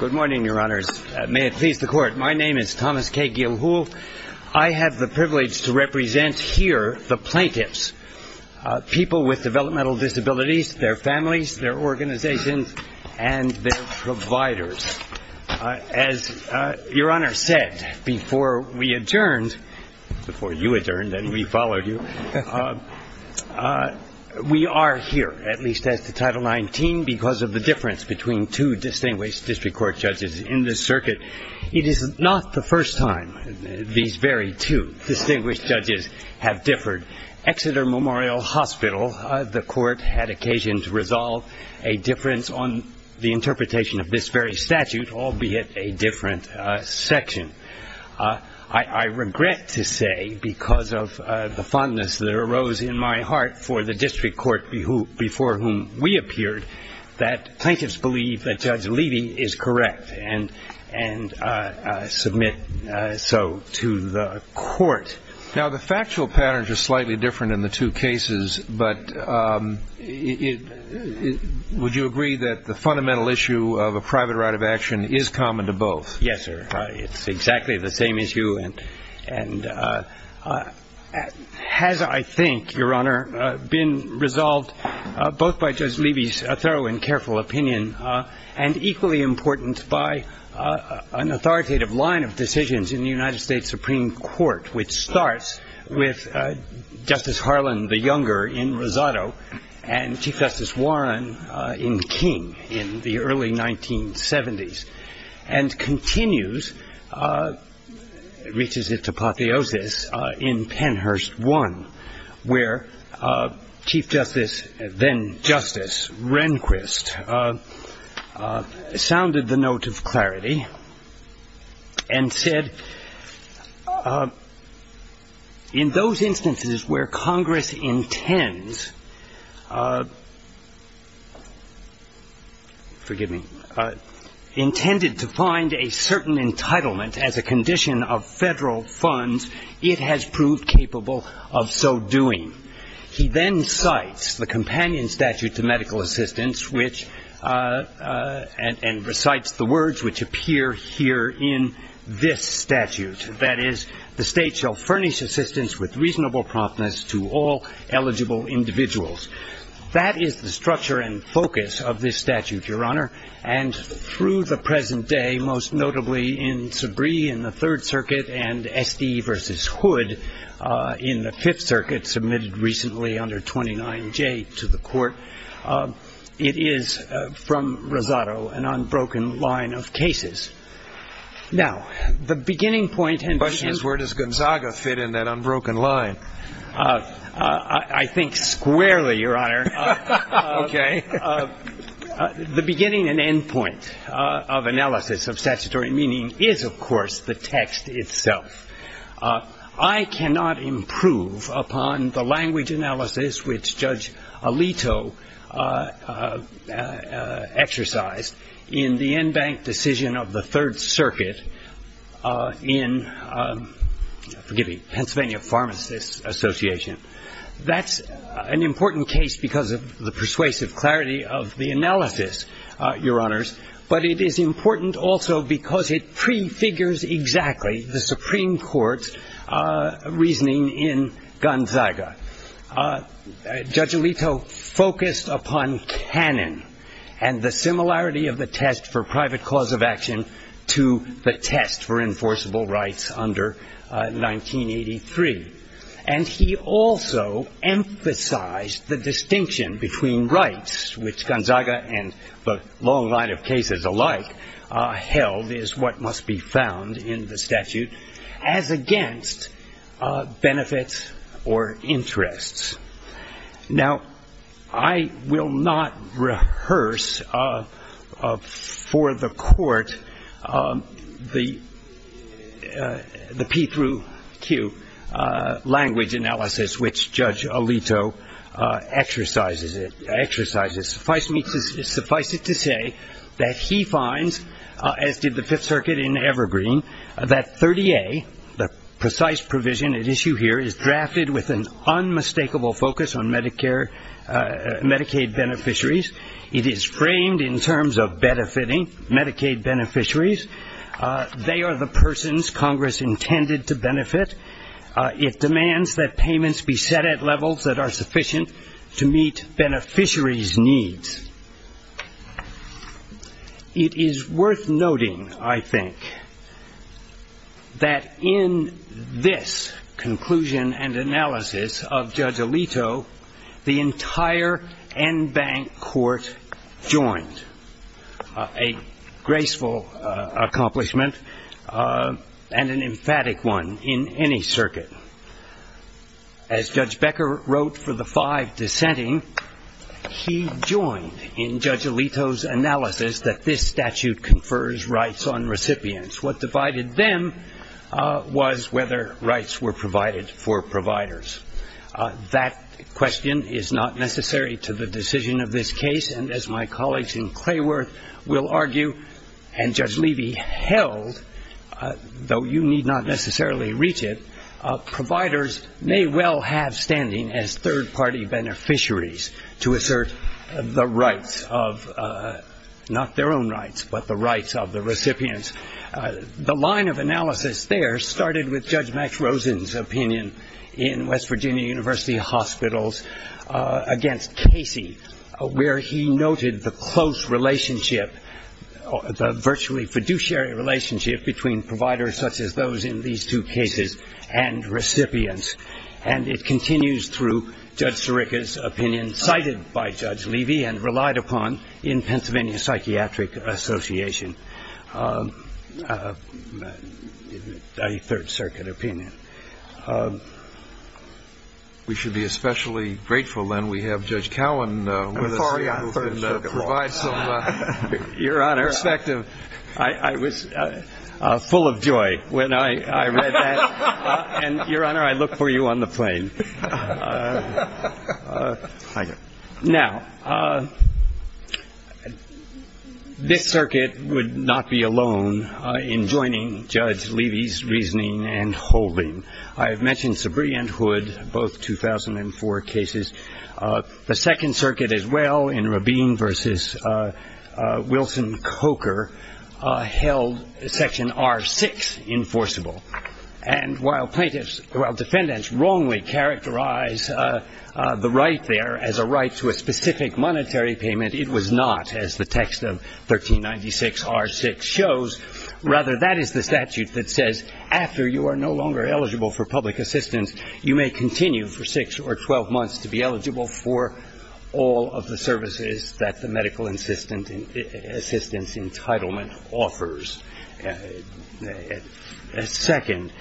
Good morning, Your Honors. May it please the Court, my name is Thomas K. Gilhool. I have the privilege to represent here the plaintiffs, people with developmental disabilities, their families, their organizations, and their providers. As Your Honor said before we adjourned, before you adjourned and we followed you, we are here, at least as to Title 19, because of the difference between two distinguished district court judges in this circuit. It is not the first time these very two distinguished judges have differed. Exeter Memorial Hospital, the Court had occasion to resolve a difference on the interpretation of this very statute, albeit a different section. I regret to say, because of the fondness that arose in my heart for the district court before whom we appeared, that plaintiffs believe that Judge Levy is correct and submit so to the Court. Now the factual patterns are slightly different in the two cases, but would you agree that the fundamental issue of a private right of action is common to both? Yes, sir. It's exactly the same issue and has, I think, Your Honor, been resolved both by Judge Levy's thorough and careful opinion and equally important by an authoritative line of decisions in the United States Supreme Court, which starts with Justice Harlan the Younger in Rosado and Chief Justice Warren in King in the early 1970s, and continues, reaches it to Patiosis in Pennhurst I, where Chief Justice, then Justice, Rehnquist, sounded the note of clarity and said, In those instances where Congress intends, forgive me, intended to find a certain entitlement as a condition of federal funds, it has proved capable of so doing. He then cites the companion statute to medical assistance and recites the words which appear here in this statute, that is, the state shall furnish assistance with reasonable promptness to all eligible individuals. That is the structure and focus of this statute, Your Honor, and through the present day, most notably in Sabree in the Third Circuit and Estee v. Hood in the Fifth Circuit, submitted recently under 29J to the Court, it is, from Rosado, an unbroken line of cases. Now, the beginning point and beginning- The question is where does Gonzaga fit in that unbroken line? I think squarely, Your Honor. Okay. The beginning and end point of analysis of statutory meaning is, of course, the text itself. I cannot improve upon the language analysis which Judge Alito exercised in the en banc decision of the Third Circuit in, forgive me, Pennsylvania Pharmacists Association. That's an important case because of the persuasive clarity of the analysis, Your Honors, but it is important also because it prefigures exactly the Supreme Court's reasoning in Gonzaga. Judge Alito focused upon canon and the similarity of the test for private cause of action to the test for enforceable rights under 1983. And he also emphasized the distinction between rights, which Gonzaga and the long line of cases alike held is what must be found in the statute, as against benefits or interests. Now, I will not rehearse for the Court the P through Q language analysis which Judge Alito exercises. Suffice it to say that he finds, as did the Fifth Circuit in Evergreen, that 30A, the precise provision at issue here, is drafted with an unmistakable focus on Medicaid beneficiaries. It is framed in terms of benefiting Medicaid beneficiaries. They are the persons Congress intended to benefit. It demands that payments be set at levels that are sufficient to meet beneficiaries' needs. It is worth noting, I think, that in this conclusion and analysis of Judge Alito, the entire en banc court joined. A graceful accomplishment and an emphatic one in any circuit. As Judge Becker wrote for the five dissenting, he joined in Judge Alito's analysis that this statute confers rights on recipients. What divided them was whether rights were provided for providers. That question is not necessary to the decision of this case. And as my colleagues in Clayworth will argue, and Judge Levy held, though you need not necessarily reach it, providers may well have standing as third-party beneficiaries to assert the rights of, not their own rights, but the rights of the recipients. The line of analysis there started with Judge Max Rosen's opinion in West Virginia University Hospitals against Casey, where he noted the close relationship, the virtually fiduciary relationship between providers such as those in these two cases and recipients. And it continues through Judge Sirica's opinion cited by Judge Levy and relied upon in Pennsylvania Psychiatric Association. A third circuit opinion. We should be especially grateful, then, we have Judge Cowen. Your Honor, I was full of joy when I read that. And, Your Honor, I look for you on the plane. Thank you. Now, this circuit would not be alone in joining Judge Levy's reasoning and holding. I have mentioned Sabree and Hood, both 2004 cases. The second circuit as well, in Rabin v. Wilson-Coker, held Section R6 enforceable. And while plaintiffs, while defendants wrongly characterize the right there as a right to a specific monetary payment, it was not, as the text of 1396 R6 shows. Rather, that is the statute that says after you are no longer eligible for public assistance, you may continue for six or 12 months to be eligible for all of the services that the medical assistance entitlement offers. Second,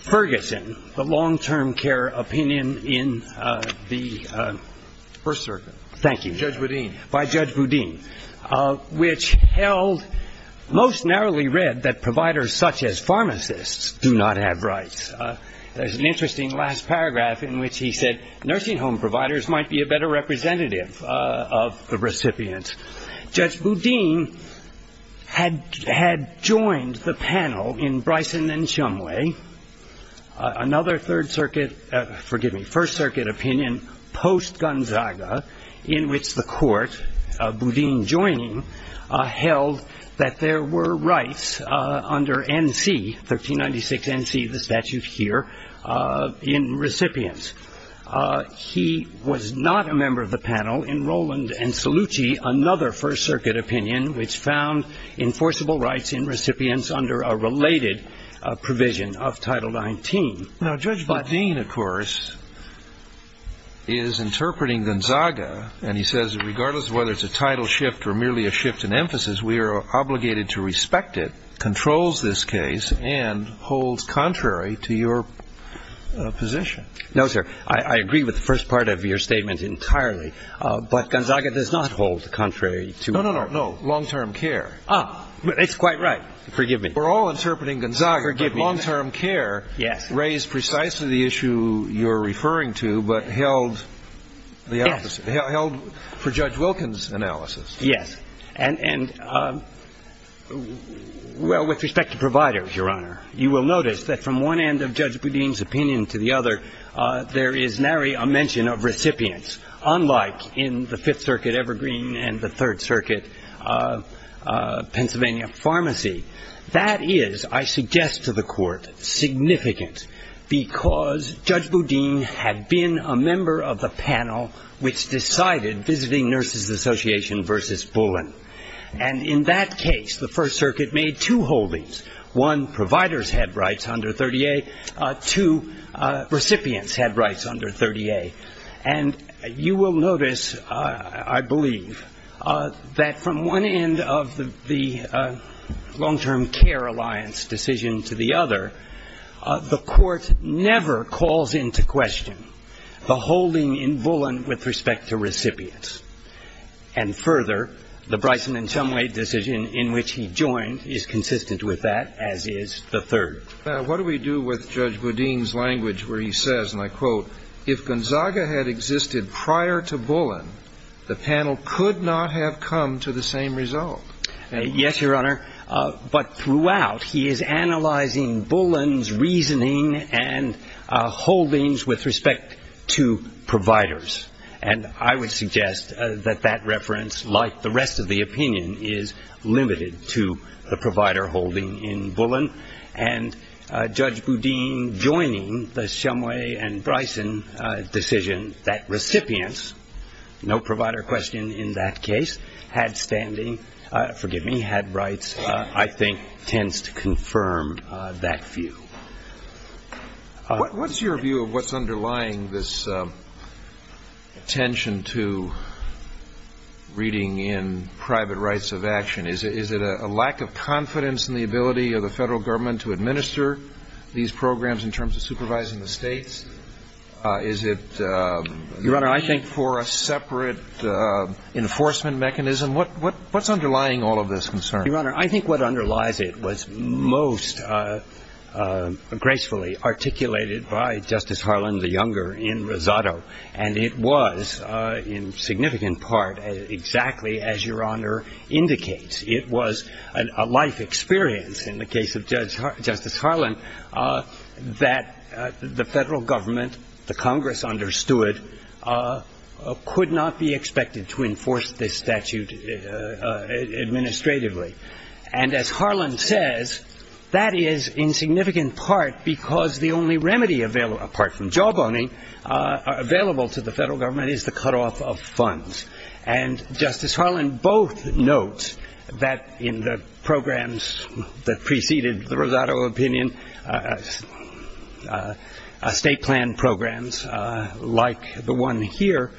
Ferguson, the long-term care opinion in the first circuit. Thank you. Judge Boudin. By Judge Boudin, which held most narrowly read that providers such as pharmacists do not have rights. There's an interesting last paragraph in which he said, nursing home providers might be a better representative of the recipient. Judge Boudin had joined the panel in Bryson and Shumway, another third circuit, forgive me, first circuit opinion post-Gonzaga, in which the court, Boudin joining, held that there were rights under N.C., 1396 N.C., the statute here, in recipients. He was not a member of the panel in Rowland and Salucci, another first circuit opinion, which found enforceable rights in recipients under a related provision of Title 19. Now, Judge Boudin, of course, is interpreting Gonzaga, and he says that regardless of whether it's a title shift or merely a shift in emphasis, we are obligated to respect it, controls this case, and holds contrary to your position. No, sir. I agree with the first part of your statement entirely. But Gonzaga does not hold contrary to your – No, no, no. Long-term care. It's quite right. Forgive me. We're all interpreting Gonzaga, but long-term care raised precisely the issue you're referring to, but held for Judge Wilkins' analysis. Yes. And, well, with respect to providers, Your Honor, you will notice that from one end of Judge Boudin's opinion to the other, there is nary a mention of recipients, unlike in the Fifth Circuit Evergreen and the Third Circuit Pennsylvania Pharmacy. That is, I suggest to the Court, significant because Judge Boudin had been a member of the panel which decided visiting Nurses Association v. Bullen. And in that case, the first circuit made two holdings. One, providers had rights under 30A. Two, recipients had rights under 30A. And you will notice, I believe, that from one end of the long-term care alliance decision to the other, the Court never calls into question the holding in Bullen with respect to recipients. And further, the Bryson and Shumway decision in which he joined is consistent with that, as is the third. Now, what do we do with Judge Boudin's language where he says, and I quote, if Gonzaga had existed prior to Bullen, the panel could not have come to the same result? Yes, Your Honor. But throughout, he is analyzing Bullen's reasoning and holdings with respect to providers. And I would suggest that that reference, like the rest of the opinion, is limited to the provider holding in Bullen. And Judge Boudin joining the Shumway and Bryson decision, that recipients, no provider question in that case, had standing, forgive me, had rights, I think tends to confirm that view. What's your view of what's underlying this attention to reading in private rights of action? Is it a lack of confidence in the ability of the federal government to administer these programs in terms of supervising the states? Is it a need for a separate enforcement mechanism? What's underlying all of this concern? Your Honor, I think what underlies it was most gracefully articulated by Justice Harlan, the younger, in Rosado, and it was in significant part exactly as Your Honor indicates. It was a life experience in the case of Justice Harlan that the federal government, the Congress understood, could not be expected to enforce this statute administratively. And as Harlan says, that is in significant part because the only remedy, apart from jawboning, available to the federal government is the cutoff of funds. And Justice Harlan both notes that in the programs that preceded the Rosado opinion, state plan programs like the one here,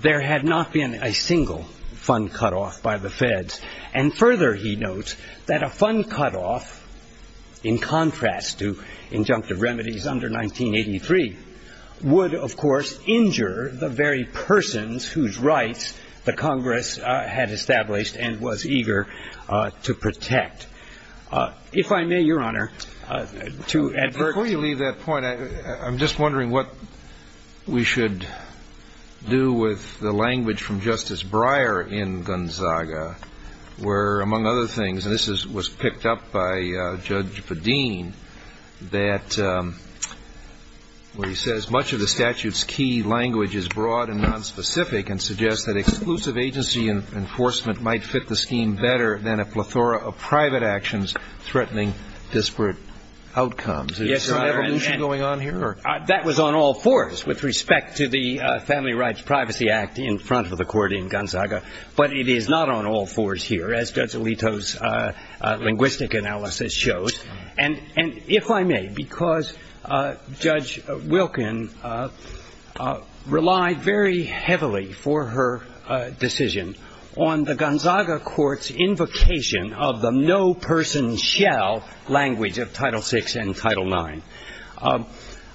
there had not been a single fund cutoff by the feds. And further he notes that a fund cutoff, in contrast to injunctive remedies under 1983, would, of course, injure the very persons whose rights the Congress had established and was eager to protect. If I may, Your Honor, to add to that. Before you leave that point, I'm just wondering what we should do with the language from Justice Breyer in Gonzaga, where among other things, and this was picked up by Judge Padin, that where he says much of the statute's key language is broad and nonspecific and suggests that exclusive agency enforcement might fit the scheme better than a plethora of private actions threatening disparate outcomes. Is there an evolution going on here? That was on all fours with respect to the Family Rights Privacy Act in front of the court in Gonzaga. But it is not on all fours here, as Judge Alito's linguistic analysis shows. And if I may, because Judge Wilkin relied very heavily for her decision on the Gonzaga court's invocation of the no-person-shall language of Title VI and Title IX,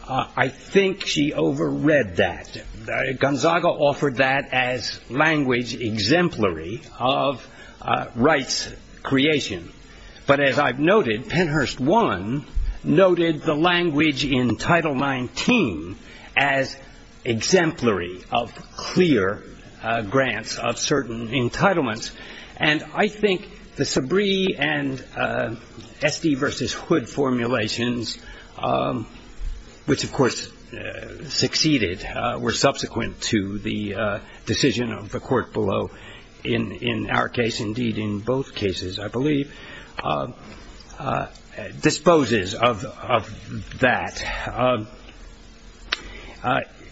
I think she overread that. Gonzaga offered that as language exemplary of rights creation. But as I've noted, Penhurst I noted the language in Title XIX as exemplary of clear grants of certain entitlements. And I think the Sabree and Esty v. Hood formulations, which, of course, succeeded, were subsequent to the decision of the court below in our case, indeed in both cases, I believe, disposes of that.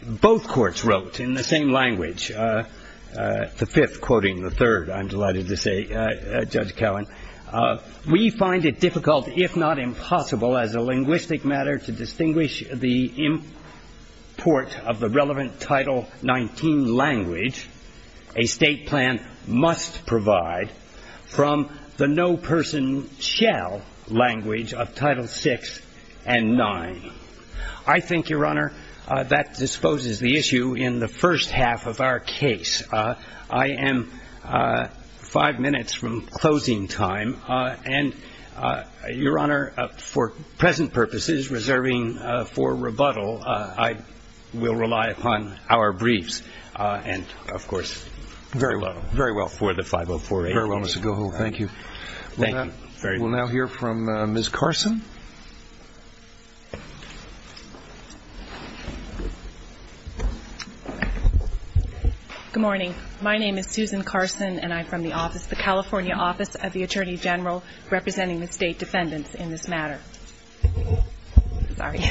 Both courts wrote in the same language, the fifth quoting the third, I'm delighted to say, Judge Cowen, We find it difficult, if not impossible, as a linguistic matter to distinguish the import of the relevant Title XIX language, a state plan must provide, from the no-person-shall language of Title VI and IX. I think, Your Honor, that disposes the issue in the first half of our case. I am five minutes from closing time. And, Your Honor, for present purposes, reserving for rebuttal, I will rely upon our briefs. And, of course, farewell. Very well for the 5048. Very well, Mr. Gohold. Thank you. Thank you. We'll now hear from Ms. Carson. Good morning. My name is Susan Carson, and I'm from the office, the California Office of the Attorney General, representing the state defendants in this matter. Sorry.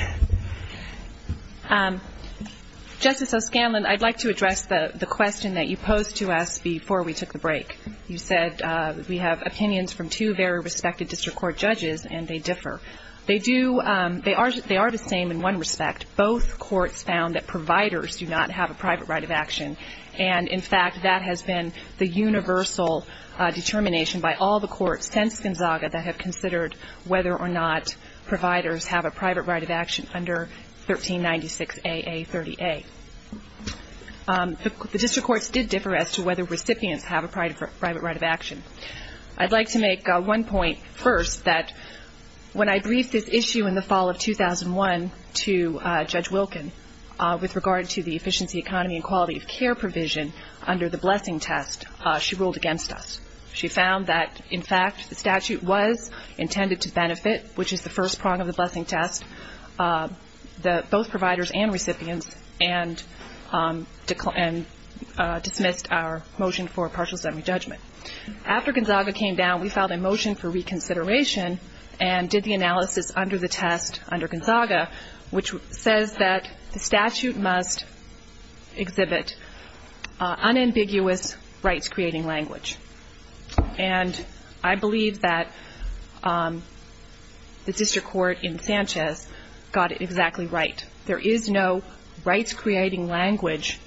Justice O'Scanlan, I'd like to address the question that you posed to us before we took the break. You said we have opinions from two very respected district court judges, and they differ. They are the same in one respect. Both courts found that providers do not have a private right of action. And, in fact, that has been the universal determination by all the courts since Gonzaga that have considered whether or not providers have a private right of action under 1396AA30A. The district courts did differ as to whether recipients have a private right of action. I'd like to make one point first, that when I briefed this issue in the fall of 2001 to Judge Wilkin, with regard to the efficiency, economy, and quality of care provision under the blessing test, she ruled against us. She found that, in fact, the statute was intended to benefit, which is the first prong of the blessing test, both providers and recipients, and dismissed our motion for partial summary judgment. After Gonzaga came down, we filed a motion for reconsideration and did the analysis under the test under Gonzaga, which says that the statute must exhibit unambiguous rights-creating language. And I believe that the district court in Sanchez got it exactly right. There is no rights-creating language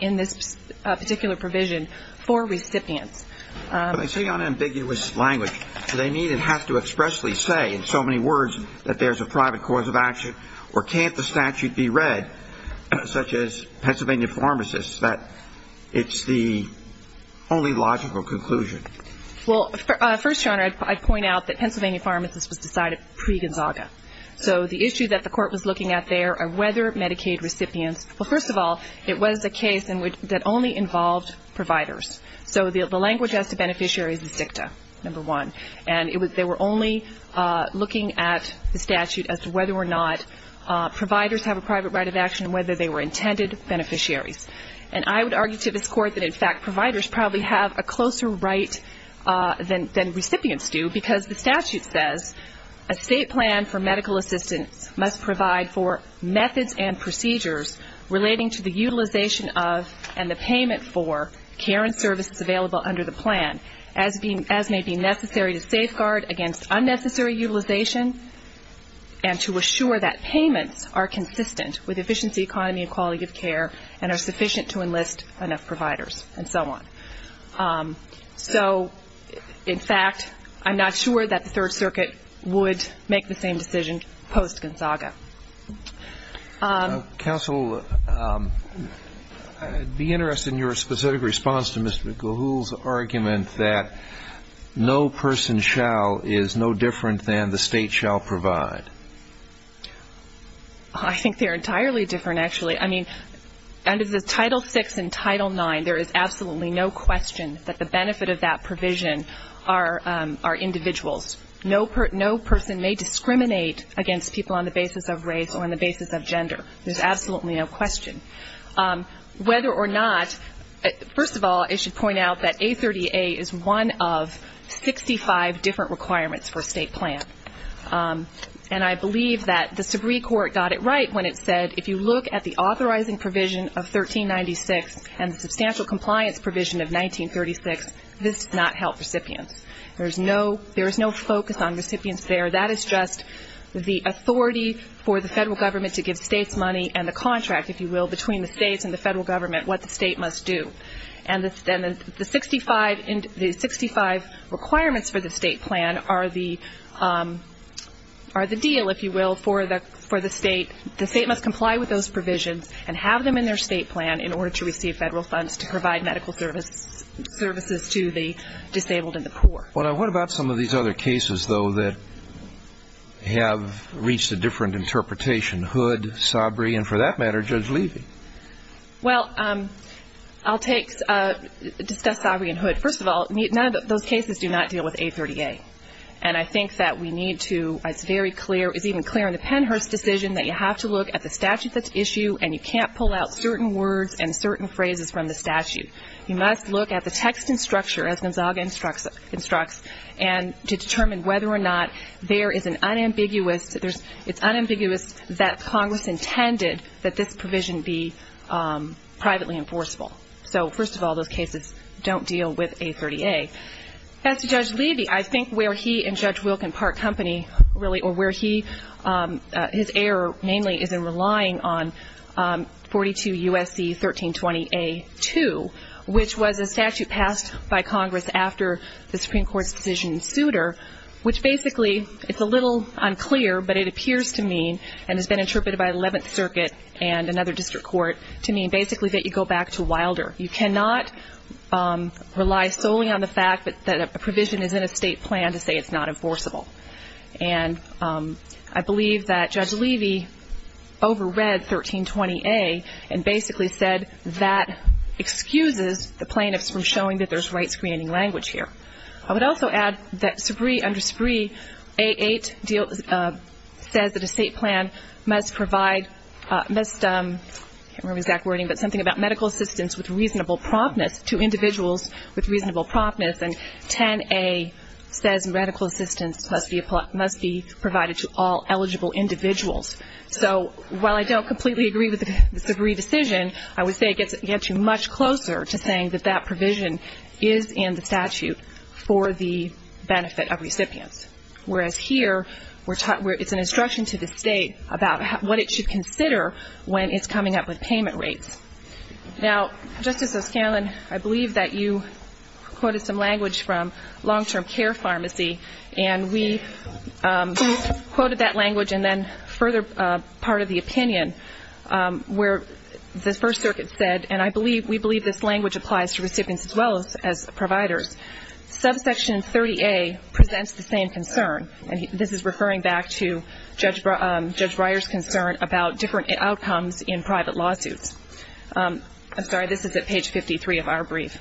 in this particular provision for recipients. When they say unambiguous language, do they mean it has to expressly say in so many words that there's a private cause of action, or can't the statute be read, such as Pennsylvania pharmacists, that it's the only logical conclusion? Well, first, Your Honor, I'd point out that Pennsylvania pharmacists was decided pre-Gonzaga. So the issue that the court was looking at there are whether Medicaid recipients, well, first of all, it was a case that only involved providers. So the language as to beneficiaries is dicta, number one. And they were only looking at the statute as to whether or not providers have a private right of action and whether they were intended beneficiaries. And I would argue to this Court that, in fact, providers probably have a closer right than recipients do, because the statute says, a state plan for medical assistance must provide for methods and procedures relating to the utilization of and the payment for care and services available under the plan, as may be necessary to safeguard against unnecessary utilization and to assure that payments are consistent with efficiency, economy, and quality of care, and are sufficient to enlist enough providers, and so on. So, in fact, I'm not sure that the Third Circuit would make the same decision post-Gonzaga. Counsel, I'd be interested in your specific response to Mr. Gahl's argument that no person shall is no different than the state shall provide. I think they're entirely different, actually. I mean, under the Title VI and Title IX, there is absolutely no question that the benefit of that provision are individuals. No person may discriminate against people on the basis of race or on the basis of gender. There's absolutely no question. Whether or not, first of all, I should point out that A30A is one of 65 different requirements for a state plan. And I believe that the Subree Court got it right when it said, if you look at the authorizing provision of 1396 and the substantial compliance provision of 1936, this does not help recipients. There is no focus on recipients there. That is just the authority for the federal government to give states money and the contract, if you will, between the states and the federal government what the state must do. And the 65 requirements for the state plan are the deal, if you will, for the state. And the state must comply with those provisions and have them in their state plan in order to receive federal funds to provide medical services to the disabled and the poor. What about some of these other cases, though, that have reached a different interpretation? Hood, Subree, and for that matter, Judge Levy. Well, I'll take, discuss Subree and Hood. First of all, none of those cases do not deal with A30A. And I think that we need to, it's very clear, it's even clear in the Pennhurst decision that you have to look at the statute that's issued, and you can't pull out certain words and certain phrases from the statute. You must look at the text and structure, as Gonzaga instructs, and to determine whether or not there is an unambiguous, it's unambiguous that Congress intended that this provision be privately enforceable. So, first of all, those cases don't deal with A30A. As to Judge Levy, I think where he and Judge Wilken part company, really, or where he, his error mainly is in relying on 42 U.S.C. 1320A2, which was a statute passed by Congress after the Supreme Court's decision in Souter, which basically, it's a little unclear, but it appears to mean, and has been interpreted by the 11th Circuit and another older, you cannot rely solely on the fact that a provision is in a state plan to say it's not enforceable. And I believe that Judge Levy overread 1320A and basically said that excuses the plaintiffs from showing that there's right-screening language here. I would also add that under SBREE, A8 says that a state plan must provide, I can't remember the exact wording, but something about medical assistance with reasonable promptness to individuals with reasonable promptness. And 10A says medical assistance must be provided to all eligible individuals. So while I don't completely agree with the SBREE decision, I would say it gets you much closer to saying that that provision is in the statute for the benefit of recipients. Whereas here, it's an instruction to the state about what it should consider when it's coming up with payment rates. Now, Justice O'Scanlan, I believe that you quoted some language from long-term care pharmacy, and we quoted that language and then further part of the opinion where the First Circuit said, and I believe, we believe this language applies to recipients as well as providers. Subsection 30A presents the same concern, and this is referring back to Judge Breyer's concern about different outcomes in different states. I'm sorry, this is at page 53 of our brief.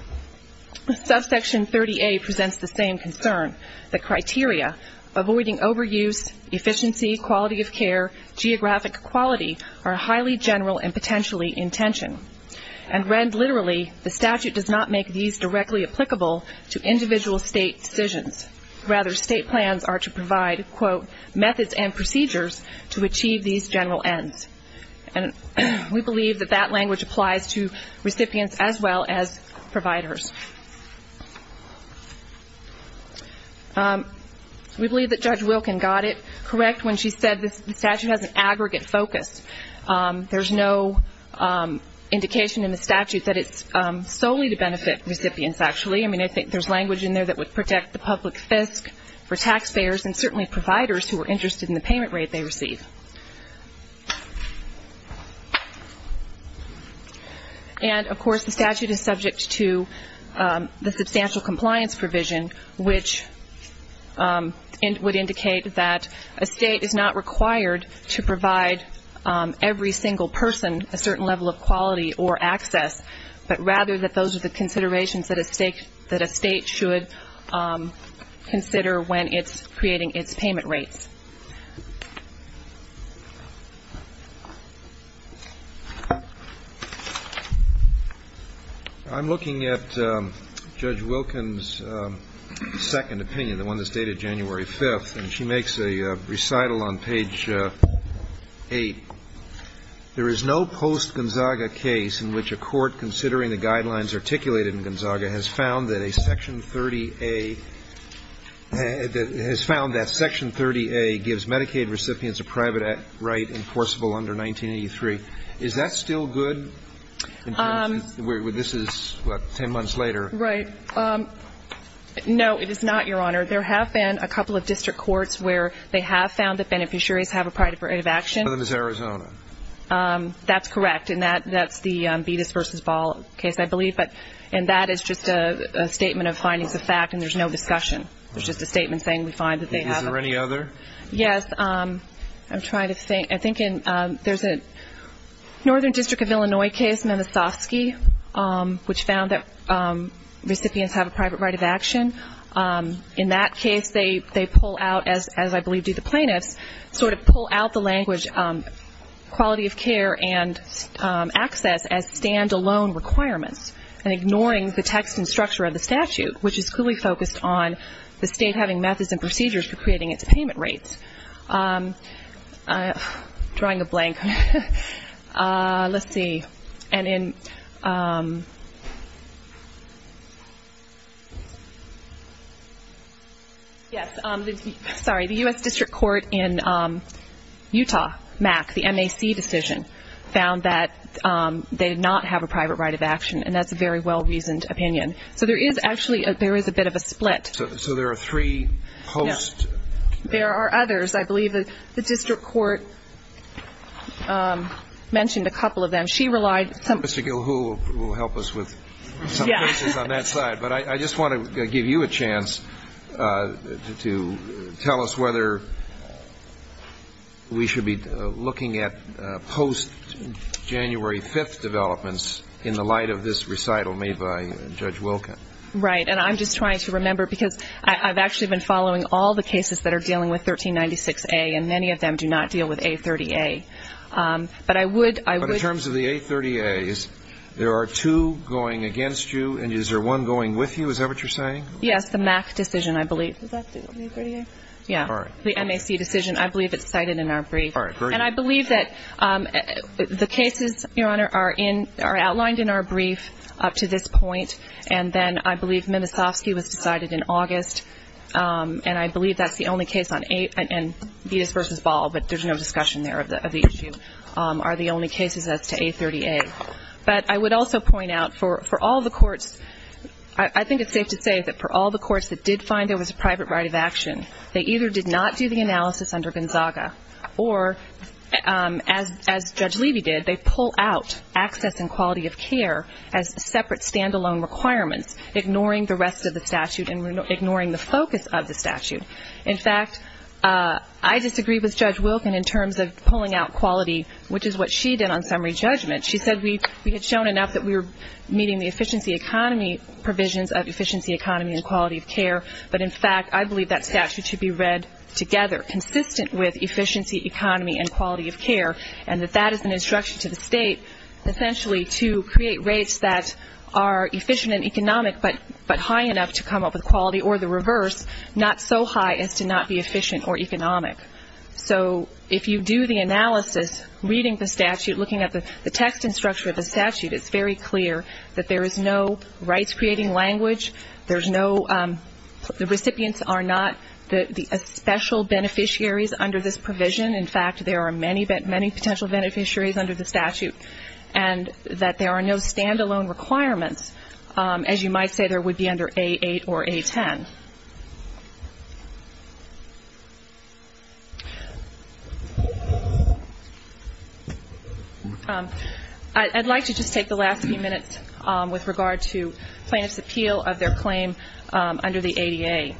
Subsection 30A presents the same concern, that criteria, avoiding overuse, efficiency, quality of care, geographic quality, are highly general and potentially in tension. And read literally, the statute does not make these directly applicable to individual state decisions. Rather, state plans are to provide, quote, methods and procedures to achieve these general ends. And we believe that that language applies to recipients as well as providers. We believe that Judge Wilkin got it correct when she said the statute has an aggregate focus. There's no indication in the statute that it's solely to benefit recipients, actually. I mean, I think there's language in there that would protect the public fisc for taxpayers and certainly providers who are interested in the payment rate they receive. And, of course, the statute is subject to the substantial compliance provision, which would indicate that a state is not required to provide every single person a certain level of quality or access, but rather that those are the considerations that a state should consider when it's creating its payment rates. I'm looking at Judge Wilkin's second opinion, the one that's dated January 5th, and she makes a recital on page 8. There is no post-Gonzaga case in which a court considering the guidelines articulated in Gonzaga has found that a Section 30A has found that Section 30A gives Medicaid recipients a private right enforceable under 1983. Is that still good in terms of where this is, what, 10 months later? Right. No, it is not, Your Honor. There have been a couple of district courts where they have found that beneficiaries have a private right of action. Southern Missouri. That's correct, and that's the Beatus v. Ball case, I believe. And that is just a statement of findings of fact, and there's no discussion. It's just a statement saying we find that they have a private right of action. Is there any other? Yes. I'm trying to think. I think there's a Northern District of Illinois case, Memesovsky, which found that recipients have a private right of action. In that case, they pull out, as I believe do the plaintiffs, sort of pull out the language quality of care and access as stand-alone requirements, and ignoring the text and structure of the statute, which is clearly focused on the state having methods and procedures for creating its payment rates. Drawing a blank. Let's see. Yes. Sorry. The U.S. District Court in Utah, MAC, the MAC decision, found that they did not have a private right of action, and that's a very well-reasoned opinion. So there is actually a bit of a split. So there are three hosts. There are others. I believe the District Court mentioned a couple of them. She relied some. Mr. Gilhool will help us with some cases on that side. But I just want to give you a chance to tell us whether we should be looking at post-January 5th developments in the light of this recital made by Judge Wilcott. Right. And I'm just trying to remember, because I've actually been following all the cases that are dealing with 1396A, and many of them do not deal with A30A. But I would ‑‑ But in terms of the A30As, there are two going against you, and is there one going with you? Is that what you're saying? Yes, the MAC decision, I believe. Is that the A30A? Yeah. All right. The MAC decision. I believe it's cited in our brief. All right. Great. And I believe that the cases, Your Honor, are outlined in our brief up to this point, and then I believe Minasovsky was decided in August, and I believe that's the only case on ‑‑ and Betus v. Ball, but there's no discussion there of the issue, are the only cases as to A30A. But I would also point out, for all the courts, I think it's safe to say that for all the courts that did find there was a private right of action, they either did not do the analysis under Gonzaga, or, as Judge Levy did, they pull out access and quality of care as separate stand‑alone requirements, ignoring the rest of the statute and ignoring the focus of the statute. In fact, I disagree with Judge Wilkin in terms of pulling out quality, which is what she did on summary judgment. She said we had shown enough that we were meeting the efficiency economy provisions of efficiency economy and quality of care, but, in fact, I believe that statute should be read together, consistent with efficiency economy and quality of care, and that that is an instruction to the state, essentially, to create rates that are efficient and economic, but high enough to come up with quality or the reverse, not so high as to not be efficient or economic. So if you do the analysis, reading the statute, looking at the text and structure of the statute, it's very clear that there is no rights‑creating language, the recipients are not the special beneficiaries under this provision. In fact, there are many potential beneficiaries under the statute, and that there are no stand‑alone requirements. As you might say, there would be under A8 or A10. I'd like to just take the last few minutes with regard to plaintiff's appeal of their claim under the ADA.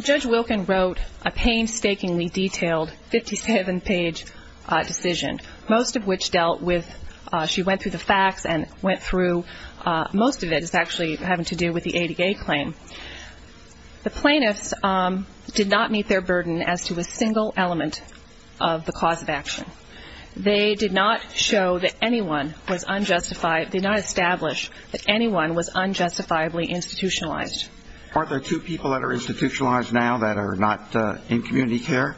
Judge Wilkin wrote a painstakingly detailed 57‑page decision, most of which dealt with ‑‑ she went through the facts and went through most of it is actually having to do with the ADA claim. The plaintiffs did not meet their burden as to a single element of the cause of action. They did not show that anyone was unjustified, did not establish that anyone was unjustifiably institutionalized. Are there two people that are institutionalized now that are not in community care?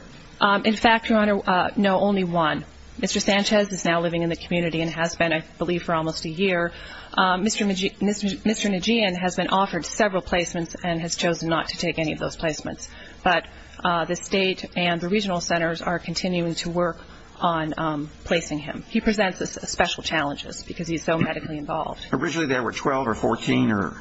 In fact, Your Honor, no, only one. Mr. Sanchez is now living in the community and has been, I believe, for almost a year. Mr. Nguyen has been offered several placements and has chosen not to take any of those placements. But the state and the regional centers are continuing to work on placing him. He presents special challenges because he's so medically involved. Originally there were 12 or 14 or?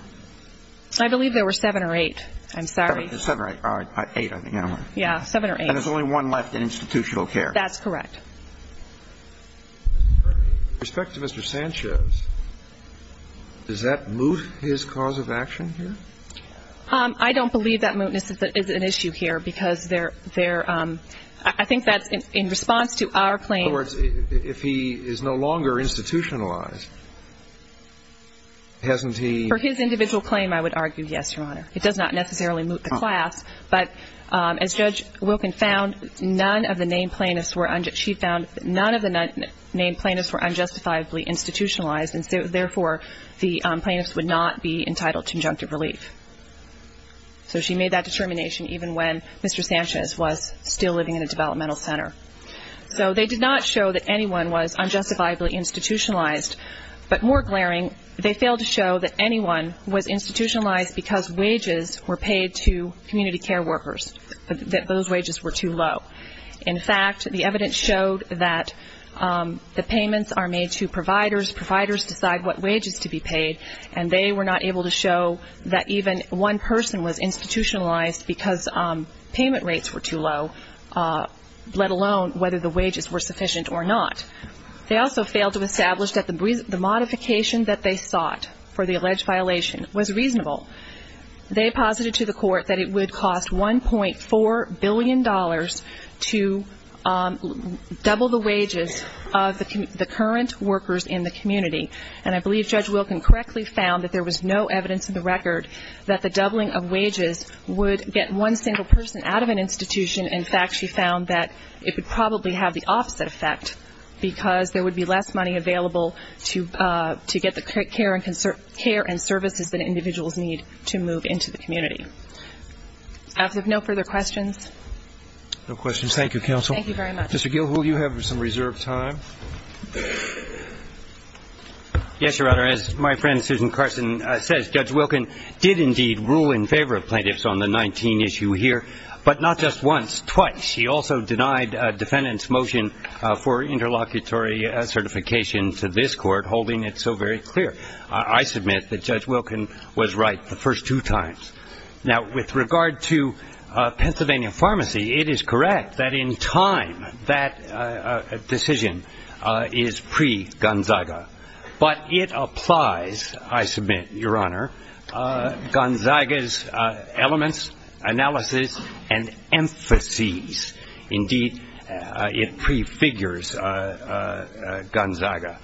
I believe there were seven or eight, I'm sorry. Seven or eight, I think. Yeah, seven or eight. And there's only one left in institutional care. That's correct. With respect to Mr. Sanchez, does that moot his cause of action here? I don't believe that mootness is an issue here because I think that's in response to our claim. In other words, if he is no longer institutionalized, hasn't he? For his individual claim, I would argue yes, Your Honor. It does not necessarily moot the class. But as Judge Wilkin found, none of the named plaintiffs were unjustifiably institutionalized, and therefore the plaintiffs would not be entitled to injunctive relief. So she made that determination even when Mr. Sanchez was still living in a developmental center. So they did not show that anyone was unjustifiably institutionalized. But more glaring, they failed to show that anyone was institutionalized because wages were paid to community care workers, that those wages were too low. In fact, the evidence showed that the payments are made to providers, providers decide what wages to be paid, and they were not able to show that even one person was institutionalized because payment rates were too low, let alone whether the wages were sufficient or not. They also failed to establish that the modification that they sought for the alleged violation was reasonable. They posited to the court that it would cost $1.4 billion to double the wages of the current workers in the community. And I believe Judge Wilkin correctly found that there was no evidence in the record that the doubling of wages would get one single person out of an institution. In fact, she found that it would probably have the opposite effect because there would be less money available to get the care and services that individuals need to move into the community. I have no further questions. No questions. Thank you, counsel. Thank you very much. Mr. Gil, will you have some reserved time? Yes, Your Honor. As my friend Susan Carson says, Judge Wilkin did indeed rule in favor of plaintiffs on the 19 issue here, but not just once, twice. She also denied a defendant's motion for interlocutory certification to this court, holding it so very clear. I submit that Judge Wilkin was right the first two times. Now, with regard to Pennsylvania Pharmacy, it is correct that in time that decision is pre-Gonzaga, but it applies, I submit, Your Honor, Gonzaga's elements, analysis, and emphases. Indeed, it prefigures Gonzaga.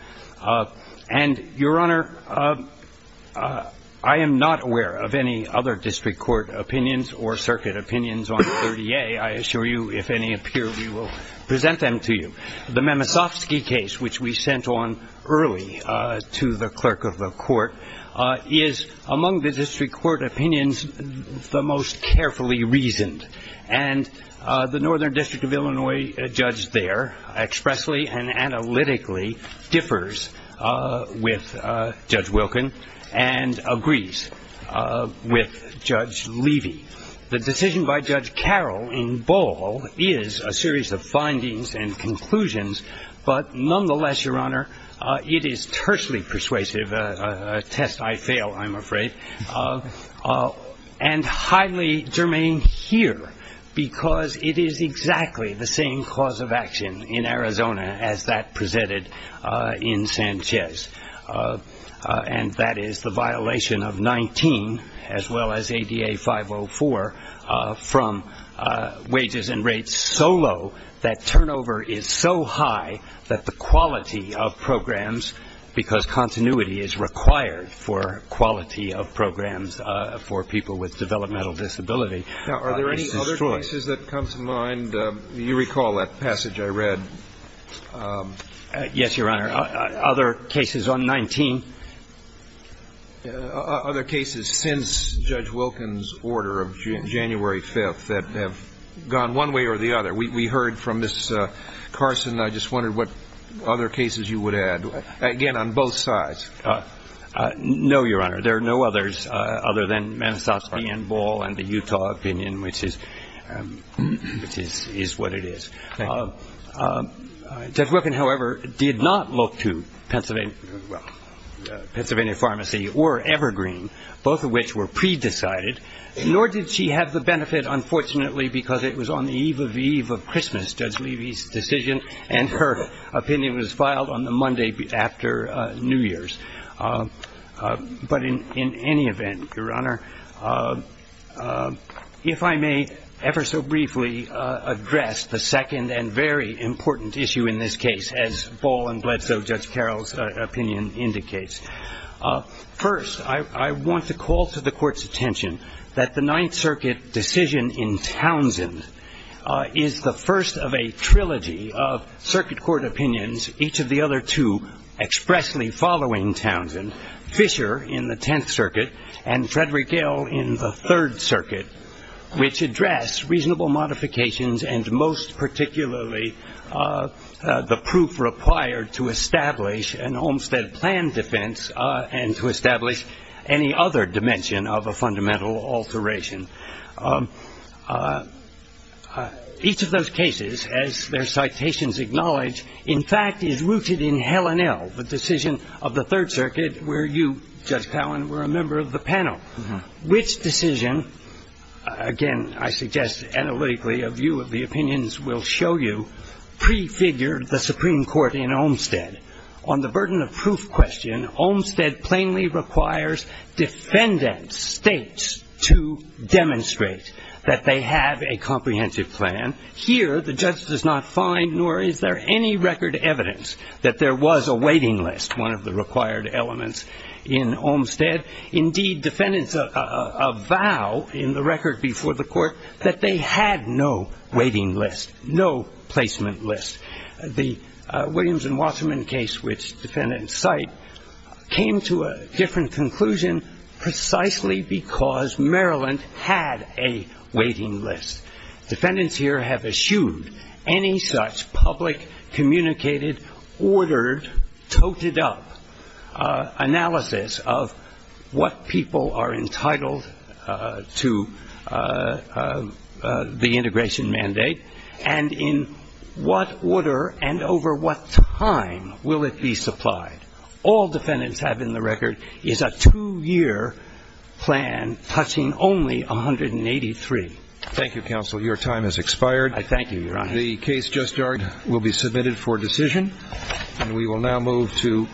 And, Your Honor, I am not aware of any other district court opinions or circuit opinions on 30A. I assure you, if any appear, we will present them to you. The Memosovsky case, which we sent on early to the clerk of the court, is among the district court opinions the most carefully reasoned. And the Northern District of Illinois judge there expressly and analytically differs with Judge Wilkin and agrees with Judge Levy. The decision by Judge Carroll in Ball is a series of findings and conclusions, but nonetheless, Your Honor, it is tersely persuasive, a test I fail, I'm afraid, and highly germane here because it is exactly the same cause of action in Arizona as that presented in Sanchez, and that is the violation of 19, as well as ADA 504, from wages and rates so low, that turnover is so high that the quality of programs, because continuity is required for quality of programs for people with developmental disability, is destroyed. Now, are there any other cases that come to mind? You recall that passage I read. Yes, Your Honor. Other cases on 19? Other cases since Judge Wilkin's order of January 5th that have gone one way or the other. We heard from Ms. Carson. I just wondered what other cases you would add, again, on both sides. No, Your Honor. There are no others other than Memosovsky and Ball and the Utah opinion, which is what it is. Judge Wilkin, however, did not look to Pennsylvania Pharmacy or Evergreen, both of which were pre-decided, nor did she have the benefit, unfortunately, because it was on the eve of the eve of Christmas, Judge Levy's decision, and her opinion was filed on the Monday after New Year's. But in any event, Your Honor, if I may ever so briefly address the second and very important issue in this case, as Ball and Bledsoe, Judge Carroll's opinion indicates. First, I want to call to the Court's attention that the Ninth Circuit decision in Townsend is the first of a trilogy of circuit court opinions, each of the other two expressly following Townsend. Fisher in the Tenth Circuit and Frederick Gale in the Third Circuit, which address reasonable modifications and most particularly the proof required to establish an Olmstead plan defense and to establish any other dimension of a fundamental alteration. Each of those cases, as their citations acknowledge, in fact, is rooted in Hellenel, the decision of the Third Circuit where you, Judge Cowen, were a member of the panel, which decision, again, I suggest analytically a view of the opinions will show you, prefigured the Supreme Court in Olmstead. On the burden of proof question, Olmstead plainly requires defendant states to demonstrate that they have a comprehensive plan. Here, the judge does not find nor is there any record evidence that there was a waiting list, one of the required elements in Olmstead. Indeed, defendants avow in the record before the Court that they had no waiting list, no placement list. The Williams and Wasserman case, which defendants cite, came to a different conclusion precisely because Maryland had a waiting list. Defendants here have eschewed any such public communicated, ordered, toted up analysis of what people are entitled to the integration mandate and in what order and over what time will it be supplied. All defendants have in the record is a two-year plan touching only 183. Thank you, Counsel. Your time has expired. I thank you, Your Honor. The case just heard will be submitted for decision. And we will now move to